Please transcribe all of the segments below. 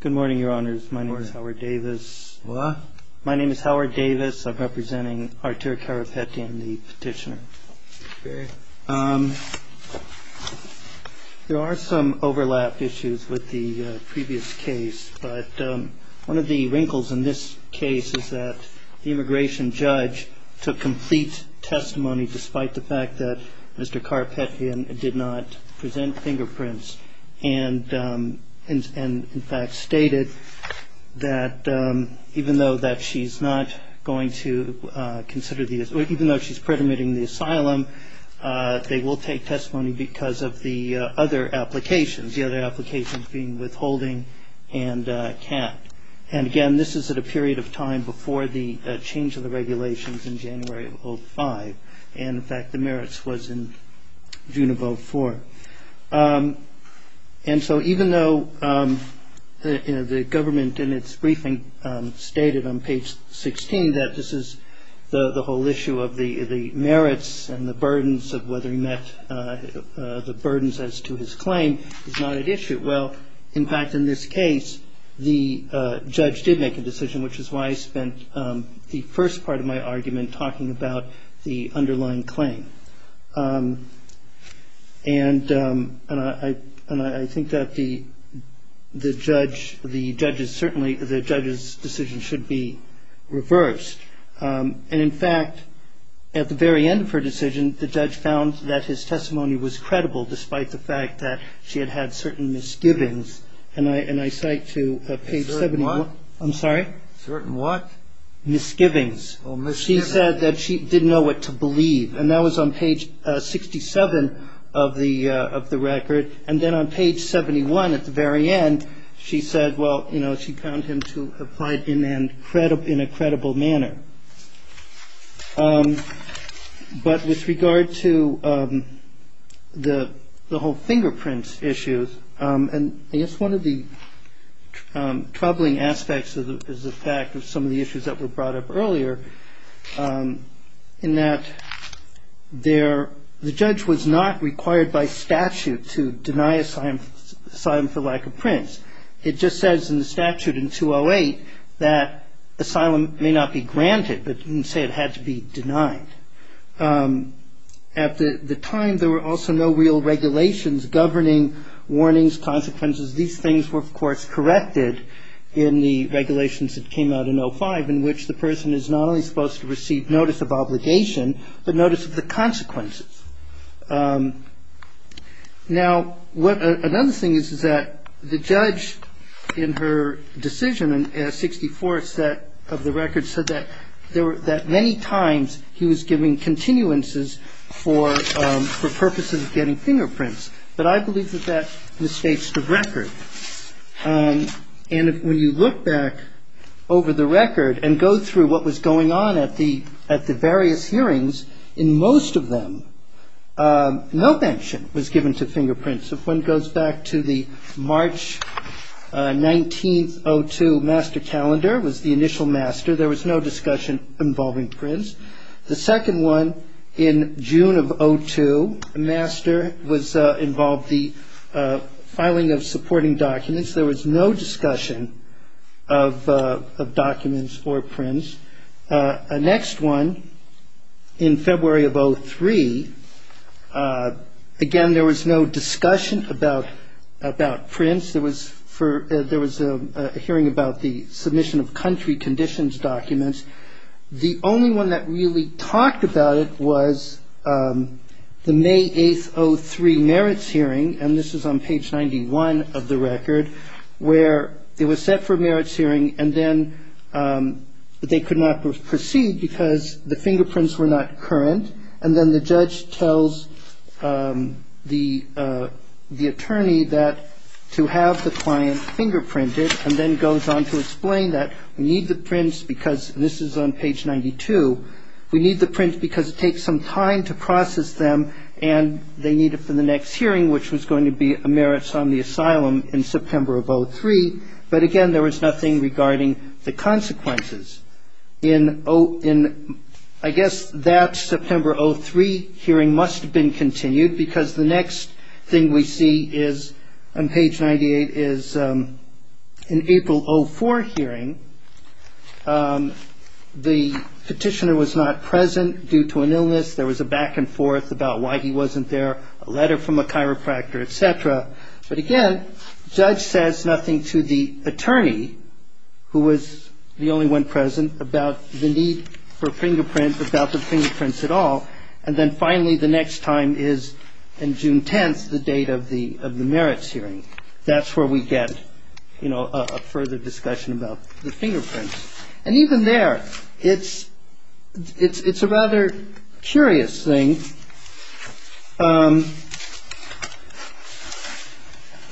Good morning, your honors. My name is Howard Davis. My name is Howard Davis. I'm representing Artur Karapetyan, the petitioner. There are some overlap issues with the previous case, but one of the wrinkles in this case is that the immigration judge took complete testimony despite the fact that Mr. Karapetyan did not present fingerprints and in fact stated that even though that she's not going to consider, even though she's predominating the asylum, they will take testimony because of the other applications, the other applications being withholding and can't. And again, this is at a period of time before the change of the regulations in January of 05, and in fact the merits was in June of 04. And so even though the government in its briefing stated on page 16 that this is the whole issue of the merits and the burdens of whether he met the burdens as to his claim, it's not an issue. Well, in fact, in this case, the judge did make a decision, which is why I spent the first part of my argument talking about the underlying claim. And I think that the judge, the judge's decision should be reversed. And in fact, at the very end of her decision, the judge found that his testimony was credible despite the fact that she had had certain misgivings. And I cite to page 71. I'm sorry? Certain what? Misgivings. Oh, misgivings. She said that she didn't know what to believe. And that was on page 67 of the record. And then on page 71 at the very end, she said, well, you know, she found him to have applied in a credible manner. But with regard to the whole fingerprints issues, and I guess one of the troubling aspects is the fact of some of the issues that were brought up earlier in that the judge was not required by statute to deny a sign for lack of prints. It just says in the statute in 208 that asylum may not be granted, but didn't say it had to be denied. At the time, there were also no real regulations governing warnings, consequences. These things were, of course, corrected in the regulations that came out in 05, in which the person is not only supposed to receive notice of obligation, but notice of the consequences. Now, another thing is that the judge, in her decision in 64 of the record, said that many times he was giving continuances for purposes of getting fingerprints. But I believe that that misstates the record. And when you look back over the record and go through what was going on at the various hearings, in most of them, no mention was given to fingerprints. If one goes back to the March 19th, 02 master calendar, was the initial master. There was no discussion involving prints. The second one in June of 02, master, involved the filing of supporting documents. There was no discussion of documents or prints. The next one, in February of 03, again, there was no discussion about prints. There was a hearing about the submission of country conditions documents. The only one that really talked about it was the May 8th, 03 merits hearing, and this is on page 91 of the record, where it was set for a merits hearing, and then they could not proceed because the fingerprints were not current. And then the judge tells the attorney that to have the client fingerprinted, and then goes on to explain that we need the prints because, and this is on page 92, we need the prints because it takes some time to process them, and they need it for the next hearing, which was going to be a merits on the asylum in September of 03. But again, there was nothing regarding the consequences. I guess that September 03 hearing must have been continued because the next thing we see on page 98 is an April 04 hearing. The petitioner was not present due to an need for fingerprints, about the fingerprints at all, and then finally the next time is in June 10th, the date of the merits hearing. That's where we get a further discussion about the fingerprints. And even there, it's a rather curious thing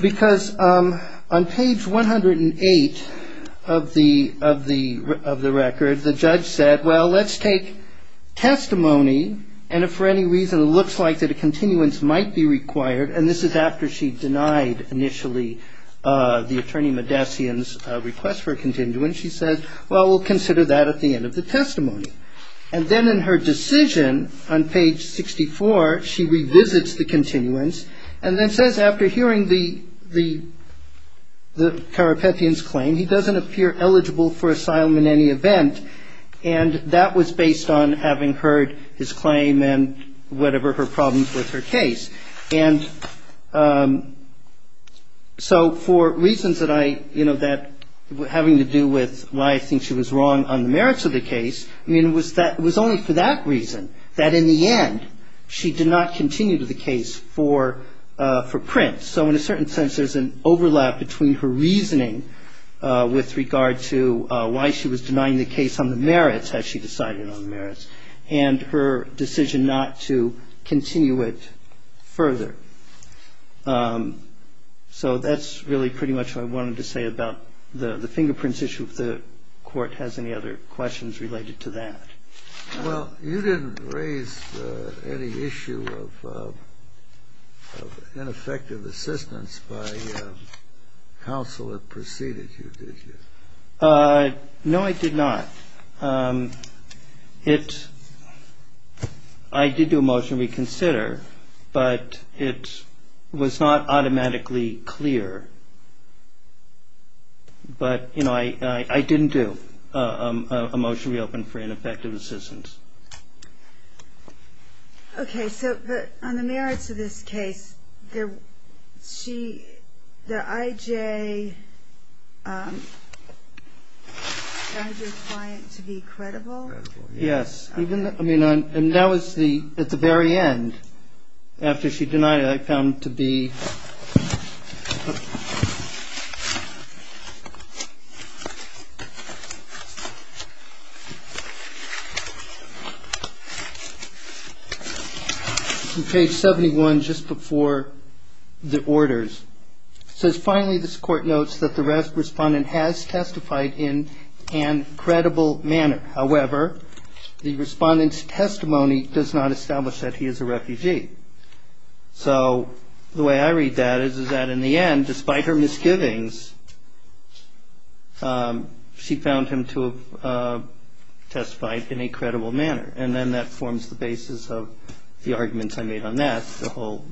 because on page 108 of the record, the judge said, well, let's take testimony, and if for any reason it looks like that a And then in her decision on page 64, she revisits the continuance and then says after hearing the Karapetian's claim, he doesn't appear eligible for asylum in any event, and that was based on having heard his claim and whatever her problems with her case. And so for reasons that were having to do with why I think she was wrong on the merits of the case, I mean, it was only for that reason that in the end, she did not continue the case for Prince. So in a certain sense, there's an overlap between her reasoning with regard to why she was denying the case on the merits, as she decided on the merits, and her decision not to continue it further. So that's really pretty much what I wanted to say about the fingerprints issue, if the Court has any other questions related to that. Well, you didn't raise any issue of ineffective assistance by counsel that preceded you, did you? No, I did not. I did do a motion to reconsider, but it was not automatically clear. But, you know, I didn't do a motion to reopen for ineffective assistance. Okay, so on the merits of this case, the I.J. denied your client to be credible? Yes. And that was at the very end. After she denied it, I found it to be on page 71, just before the orders. It says, finally, this Court notes that the respondent has testified in an credible manner. However, the respondent's testimony does not establish that he is a refugee. So the way I read that is that in the end, despite her misgivings, she found him to have testified in a credible manner. And then that forms the basis of the arguments I made on that, the whole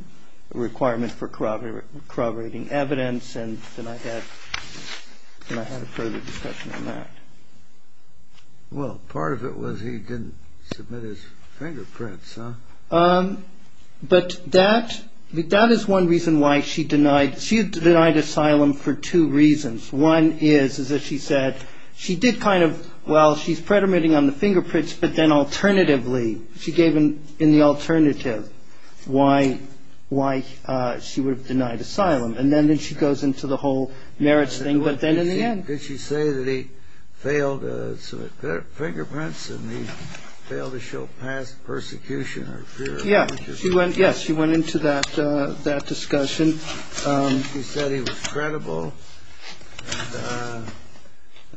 requirement for corroborating evidence. And then I had a further discussion on that. Well, part of it was he didn't submit his fingerprints, huh? But that is one reason why she denied. She had denied asylum for two reasons. One is, as she said, she did kind of, well, she's predominating on the fingerprints. But then alternatively, she gave in the alternative why she would have denied asylum. And then she goes into the whole merits thing. But then in the end. Did she say that he failed to submit fingerprints and he failed to show past persecution or fear? Yes, she went into that discussion. She said he was credible.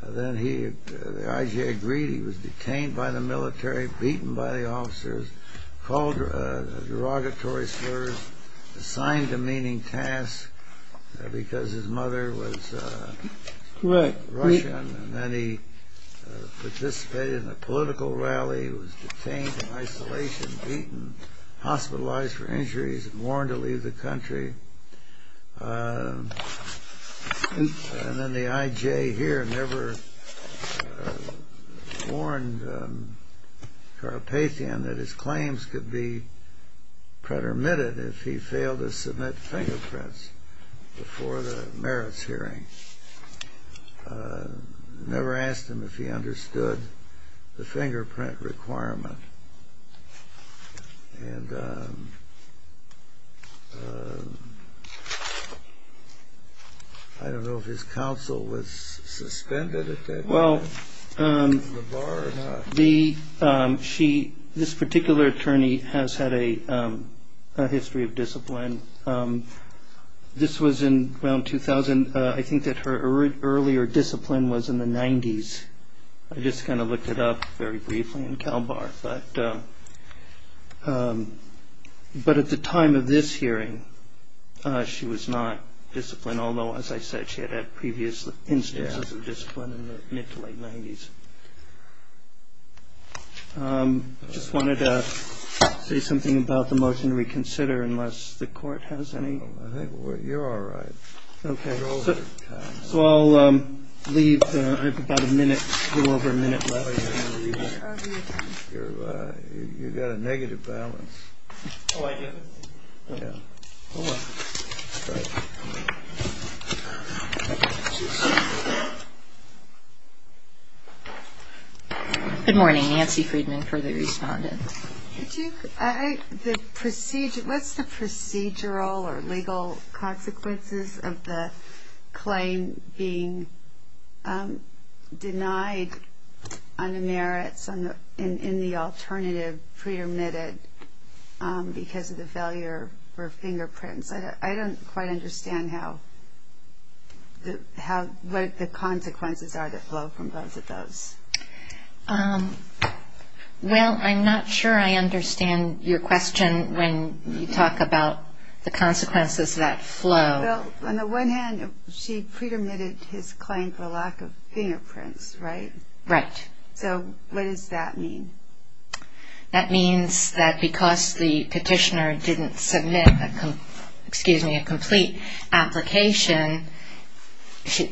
Then the IGA agreed he was detained by the military, beaten by the officers, called derogatory slurs, assigned demeaning tasks because his mother was Russian. And then he participated in a political rally, was detained in isolation, beaten, hospitalized for injuries, warned to leave the country. And then the IJ here never warned Karapetian that his claims could be pretermitted if he failed to submit fingerprints before the merits hearing. Never asked him if he understood the fingerprint requirement. I don't know if his counsel was suspended at that time. Well, this particular attorney has had a history of discipline. This was in around 2000. I think that her earlier discipline was in the 90s. I just kind of looked it up very briefly in CalBAR. But at the time of this hearing, she was not disciplined. Although, as I said, she had had previous instances of discipline in the mid to late 90s. I just wanted to say something about the motion to reconsider unless the court has any. I think you're all right. Okay. So I'll leave. I have about a minute, a little over a minute left. You've got a negative balance. Yeah. Oh, well. All right. Good morning. Nancy Friedman, further respondent. What's the procedural or legal consequences of the claim being denied on the merits in the alternative pre-admitted because of the failure for fingerprints? I don't quite understand what the consequences are that flow from both of those. Well, I'm not sure I understand your question when you talk about the consequences that flow. Well, on the one hand, she pre-admitted his claim for lack of fingerprints, right? Right. So what does that mean? That means that because the petitioner didn't submit a complete application,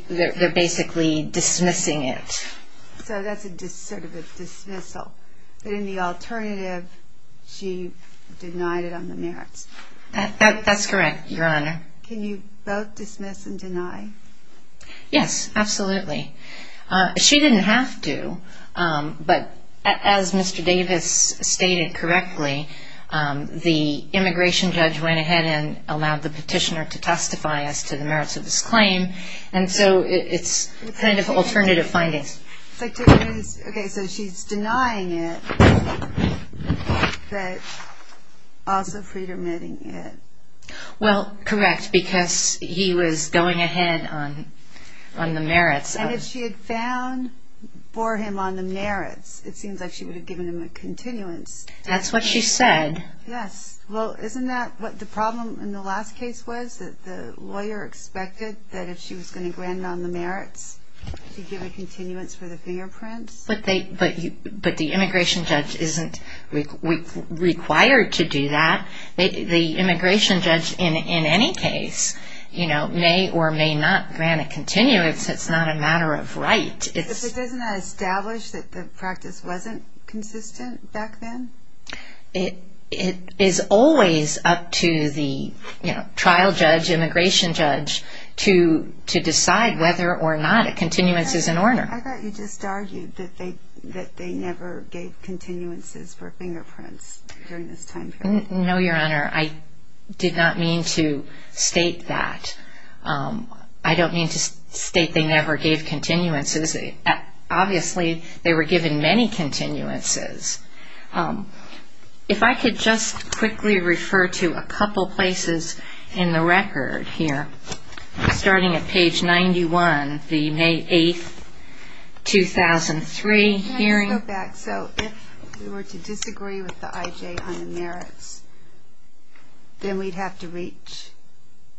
they're basically dismissing it. So that's sort of a dismissal. But in the alternative, she denied it on the merits. That's correct, Your Honor. Can you both dismiss and deny? Yes, absolutely. She didn't have to, but as Mr. Davis stated correctly, the immigration judge went ahead and allowed the petitioner to testify as to the merits of his claim, and so it's kind of alternative findings. Okay, so she's denying it, but also pre-admitting it. Well, correct, because he was going ahead on the merits. And if she had found for him on the merits, it seems like she would have given him a continuance. That's what she said. Yes. Well, isn't that what the problem in the last case was? That the lawyer expected that if she was going to grant him on the merits, she'd give a continuance for the fingerprints? But the immigration judge isn't required to do that. The immigration judge, in any case, may or may not grant a continuance. It's not a matter of right. But doesn't that establish that the practice wasn't consistent back then? It is always up to the trial judge, immigration judge, to decide whether or not a continuance is in order. I thought you just argued that they never gave continuances for fingerprints during this time period. No, Your Honor, I did not mean to state that. I don't mean to state they never gave continuances. Obviously, they were given many continuances. If I could just quickly refer to a couple places in the record here, starting at page 91, the May 8, 2003 hearing. Let me go back. So if we were to disagree with the IJ on the merits, then we'd have to reach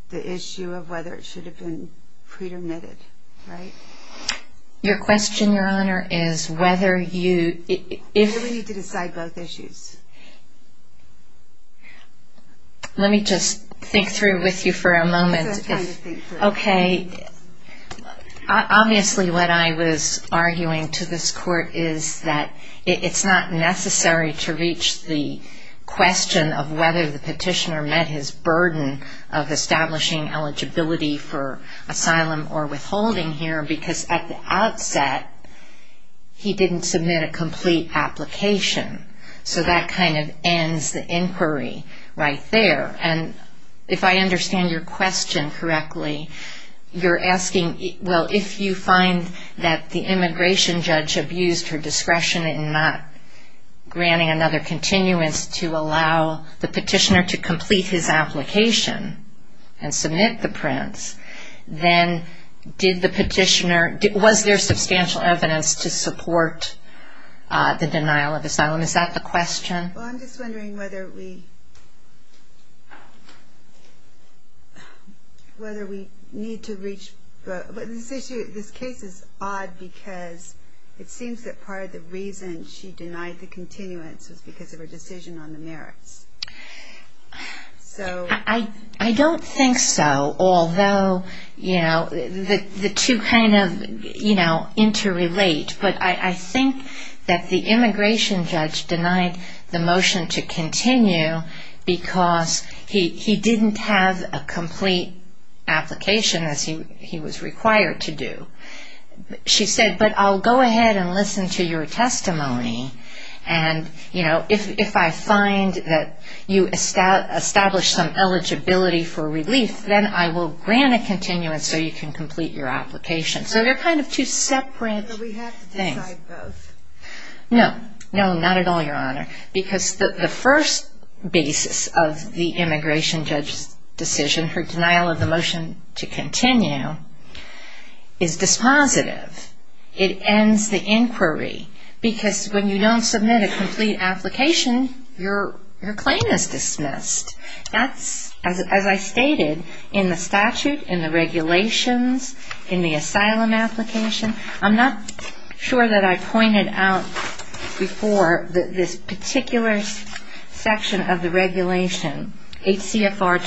the issue of whether it should have been pre-dermitted, right? Your question, Your Honor, is whether you... We need to decide both issues. Let me just think through with you for a moment. I'm trying to think through. Okay. Obviously, what I was arguing to this Court is that it's not necessary to reach the question of whether the petitioner met his burden of establishing eligibility for asylum or withholding here because at the outset, he didn't submit a complete application. So that kind of ends the inquiry right there. And if I understand your question correctly, you're asking, well, if you find that the immigration judge abused her discretion in not granting another continuance to allow the petitioner to complete his application and submit the prints, then was there substantial evidence to support the denial of asylum? Is that the question? Well, I'm just wondering whether we need to reach... This case is odd because it seems that part of the reason she denied the continuance was because of her decision on the merits. I don't think so, although the two kind of interrelate. But I think that the immigration judge denied the motion to continue because he didn't have a complete application, as he was required to do. She said, but I'll go ahead and listen to your testimony, and if I find that you establish some eligibility for relief, then I will grant a continuance so you can complete your application. So they're kind of two separate things. So we have to decide both? No, no, not at all, Your Honor, because the first basis of the immigration judge's decision, her denial of the motion to continue, is dispositive. It ends the inquiry because when you don't submit a complete application, your claim is dismissed. That's, as I stated, in the statute, in the regulations, in the asylum application. I'm not sure that I pointed out before this particular section of the regulation, HCFR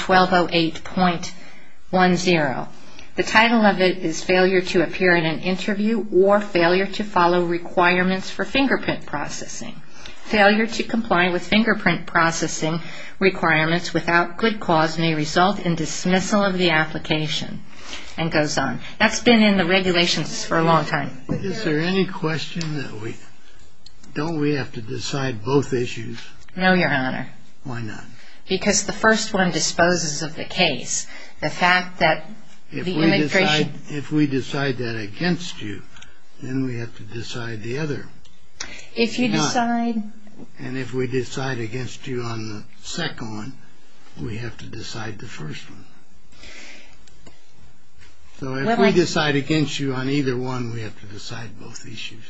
1208.10. The title of it is failure to appear in an interview or failure to follow requirements for fingerprint processing. Failure to comply with fingerprint processing requirements without good cause may result in dismissal of the application, and goes on. That's been in the regulations for a long time. Is there any question that we, don't we have to decide both issues? No, Your Honor. Why not? Because the first one disposes of the case. The fact that the immigration... If we decide that against you, then we have to decide the other. If you decide... And if we decide against you on the second one, we have to decide the first one. So if we decide against you on either one, we have to decide both issues.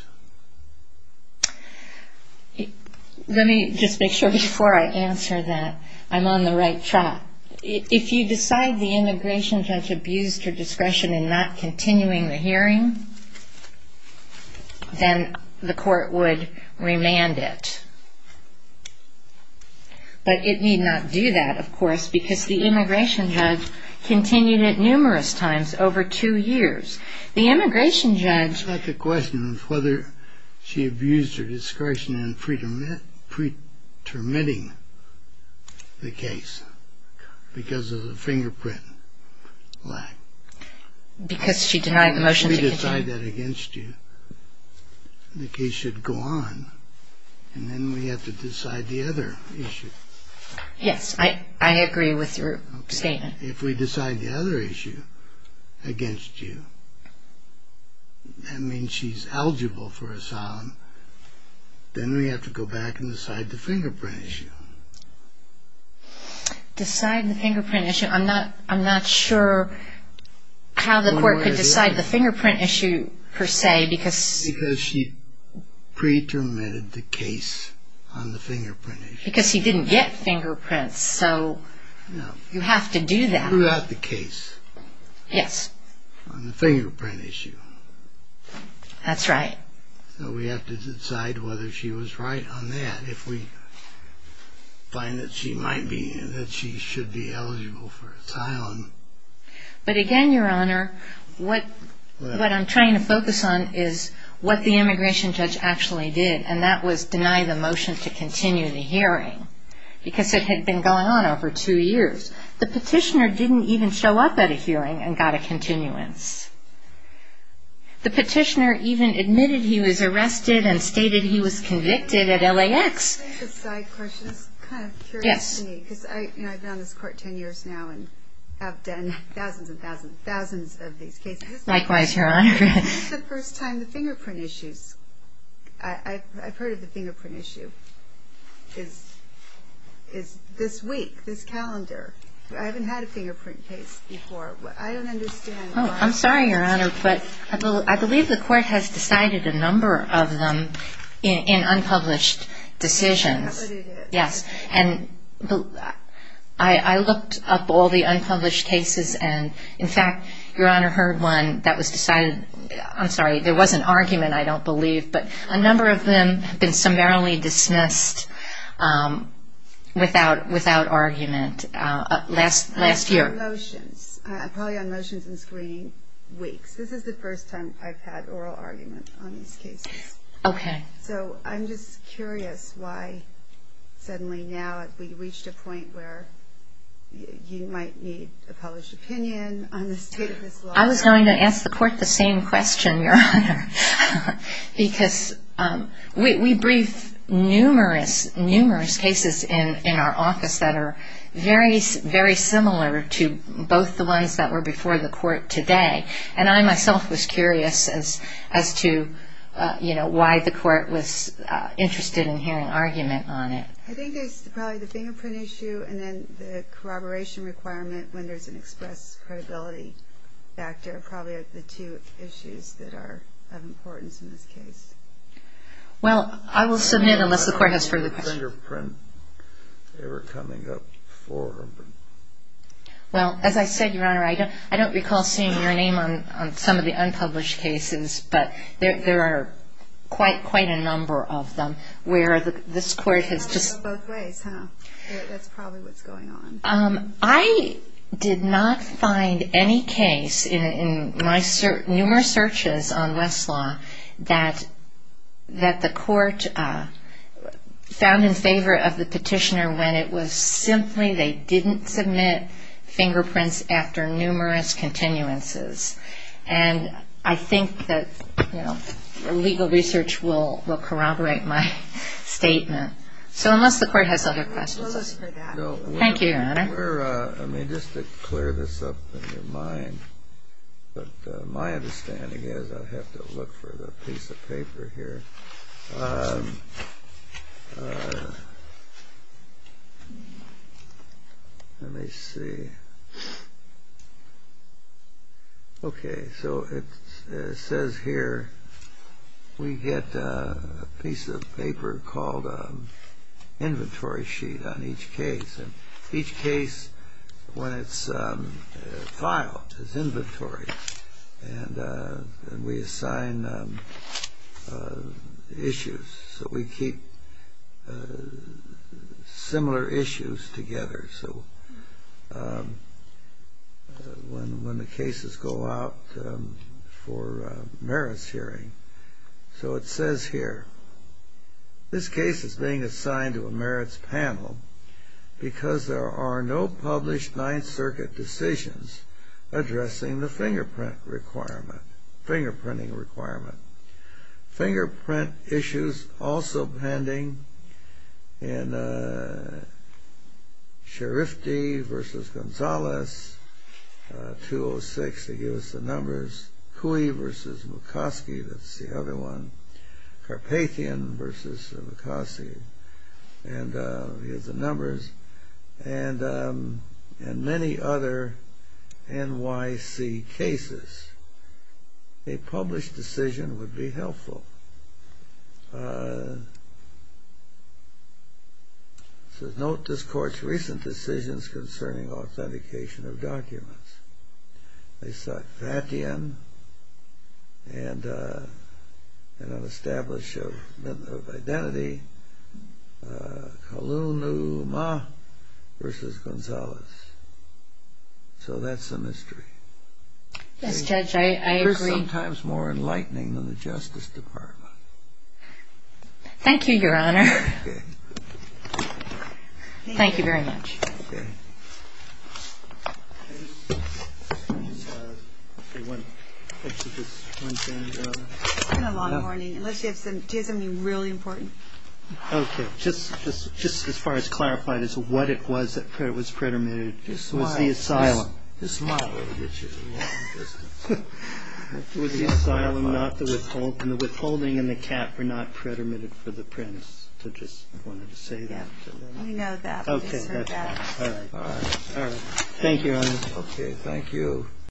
Let me just make sure before I answer that I'm on the right track. If you decide the immigration judge abused her discretion in not continuing the hearing, then the court would remand it. But it need not do that, of course, because the immigration judge continued it numerous times over two years. The immigration judge... It's not the question of whether she abused her discretion in pretermitting the case because of the fingerprint lack. Because she denied the motion to continue. If we decide that against you, the case should go on, and then we have to decide the other issue. Yes, I agree with your statement. If we decide the other issue against you, that means she's eligible for asylum, then we have to go back and decide the fingerprint issue. Decide the fingerprint issue? I'm not sure how the court could decide the fingerprint issue, per se, because... Because she pretermitted the case on the fingerprint issue. Because she didn't get fingerprints, so you have to do that. No, throughout the case. Yes. On the fingerprint issue. That's right. So we have to decide whether she was right on that if we find that she should be eligible for asylum. But again, Your Honor, what I'm trying to focus on is what the immigration judge actually did, and that was deny the motion to continue the hearing because it had been going on over two years. The petitioner didn't even show up at a hearing and got a continuance. The petitioner even admitted he was arrested and stated he was convicted at LAX. Can I ask a side question? It's kind of curious to me because I've been on this court ten years now and have done thousands and thousands and thousands of these cases. Likewise, Your Honor. This is the first time the fingerprint issues, I've heard of the fingerprint issue, is this week, this calendar. I haven't had a fingerprint case before. I'm sorry, Your Honor, but I believe the court has decided a number of them in unpublished decisions. Yes. And I looked up all the unpublished cases and, in fact, Your Honor, heard one that was decided. I'm sorry, there was an argument, I don't believe, but a number of them have been summarily dismissed without argument last year. I'm on motions. I'm probably on motions and screening weeks. This is the first time I've had oral argument on these cases. Okay. So I'm just curious why suddenly now we've reached a point where you might need a published opinion on the state of this law. I was going to ask the court the same question, Your Honor, because we brief numerous, numerous cases in our office that are very, very similar to both the ones that were before the court today. And I myself was curious as to, you know, why the court was interested in hearing argument on it. I think it's probably the fingerprint issue and then the corroboration requirement when there's an express credibility factor are probably the two issues that are of importance in this case. Well, I will submit unless the court has further questions. Fingerprint, they were coming up 400. Well, as I said, Your Honor, I don't recall seeing your name on some of the unpublished cases, but there are quite a number of them where this court has just – Both ways, huh? That's probably what's going on. I did not find any case in my numerous searches on Westlaw that the court found in favor of the petitioner when it was simply they didn't submit fingerprints after numerous continuances. And I think that, you know, legal research will corroborate my statement. So unless the court has other questions. Thank you, Your Honor. Let me just clear this up in your mind. But my understanding is I have to look for the piece of paper here. Let me see. Okay. So it says here we get a piece of paper called an inventory sheet on each case. And each case, when it's filed, is inventory. And we assign issues. So we keep similar issues together. So when the cases go out for merits hearing. So it says here, this case is being assigned to a merits panel because there are no published Ninth Circuit decisions addressing the fingerprint requirement. Fingerprinting requirement. Fingerprint issues also pending in Scharifti v. Gonzalez, 206. They give us the numbers. Cui v. McCoskey, that's the other one. Carpathian v. McCoskey. And here's the numbers. And many other NYC cases. A published decision would be helpful. It says, note this court's recent decisions concerning authentication of documents. They sought Fathian and an establishment of identity. Kalunuma v. Gonzalez. So that's a mystery. Yes, Judge, I agree. They're sometimes more enlightening than the Justice Department. Thank you, Your Honor. Okay. Thank you very much. Okay. It's been a long morning, unless you have something really important. Okay, just as far as clarifying this, what it was that was predetermined was the asylum. His smile will get you a long distance. It was the asylum, not the withholding. And the withholding and the cap were not predetermined for the prince. I just wanted to say that. We know that. Okay, that's fine. All right. All right. Thank you, Your Honor. Okay, thank you.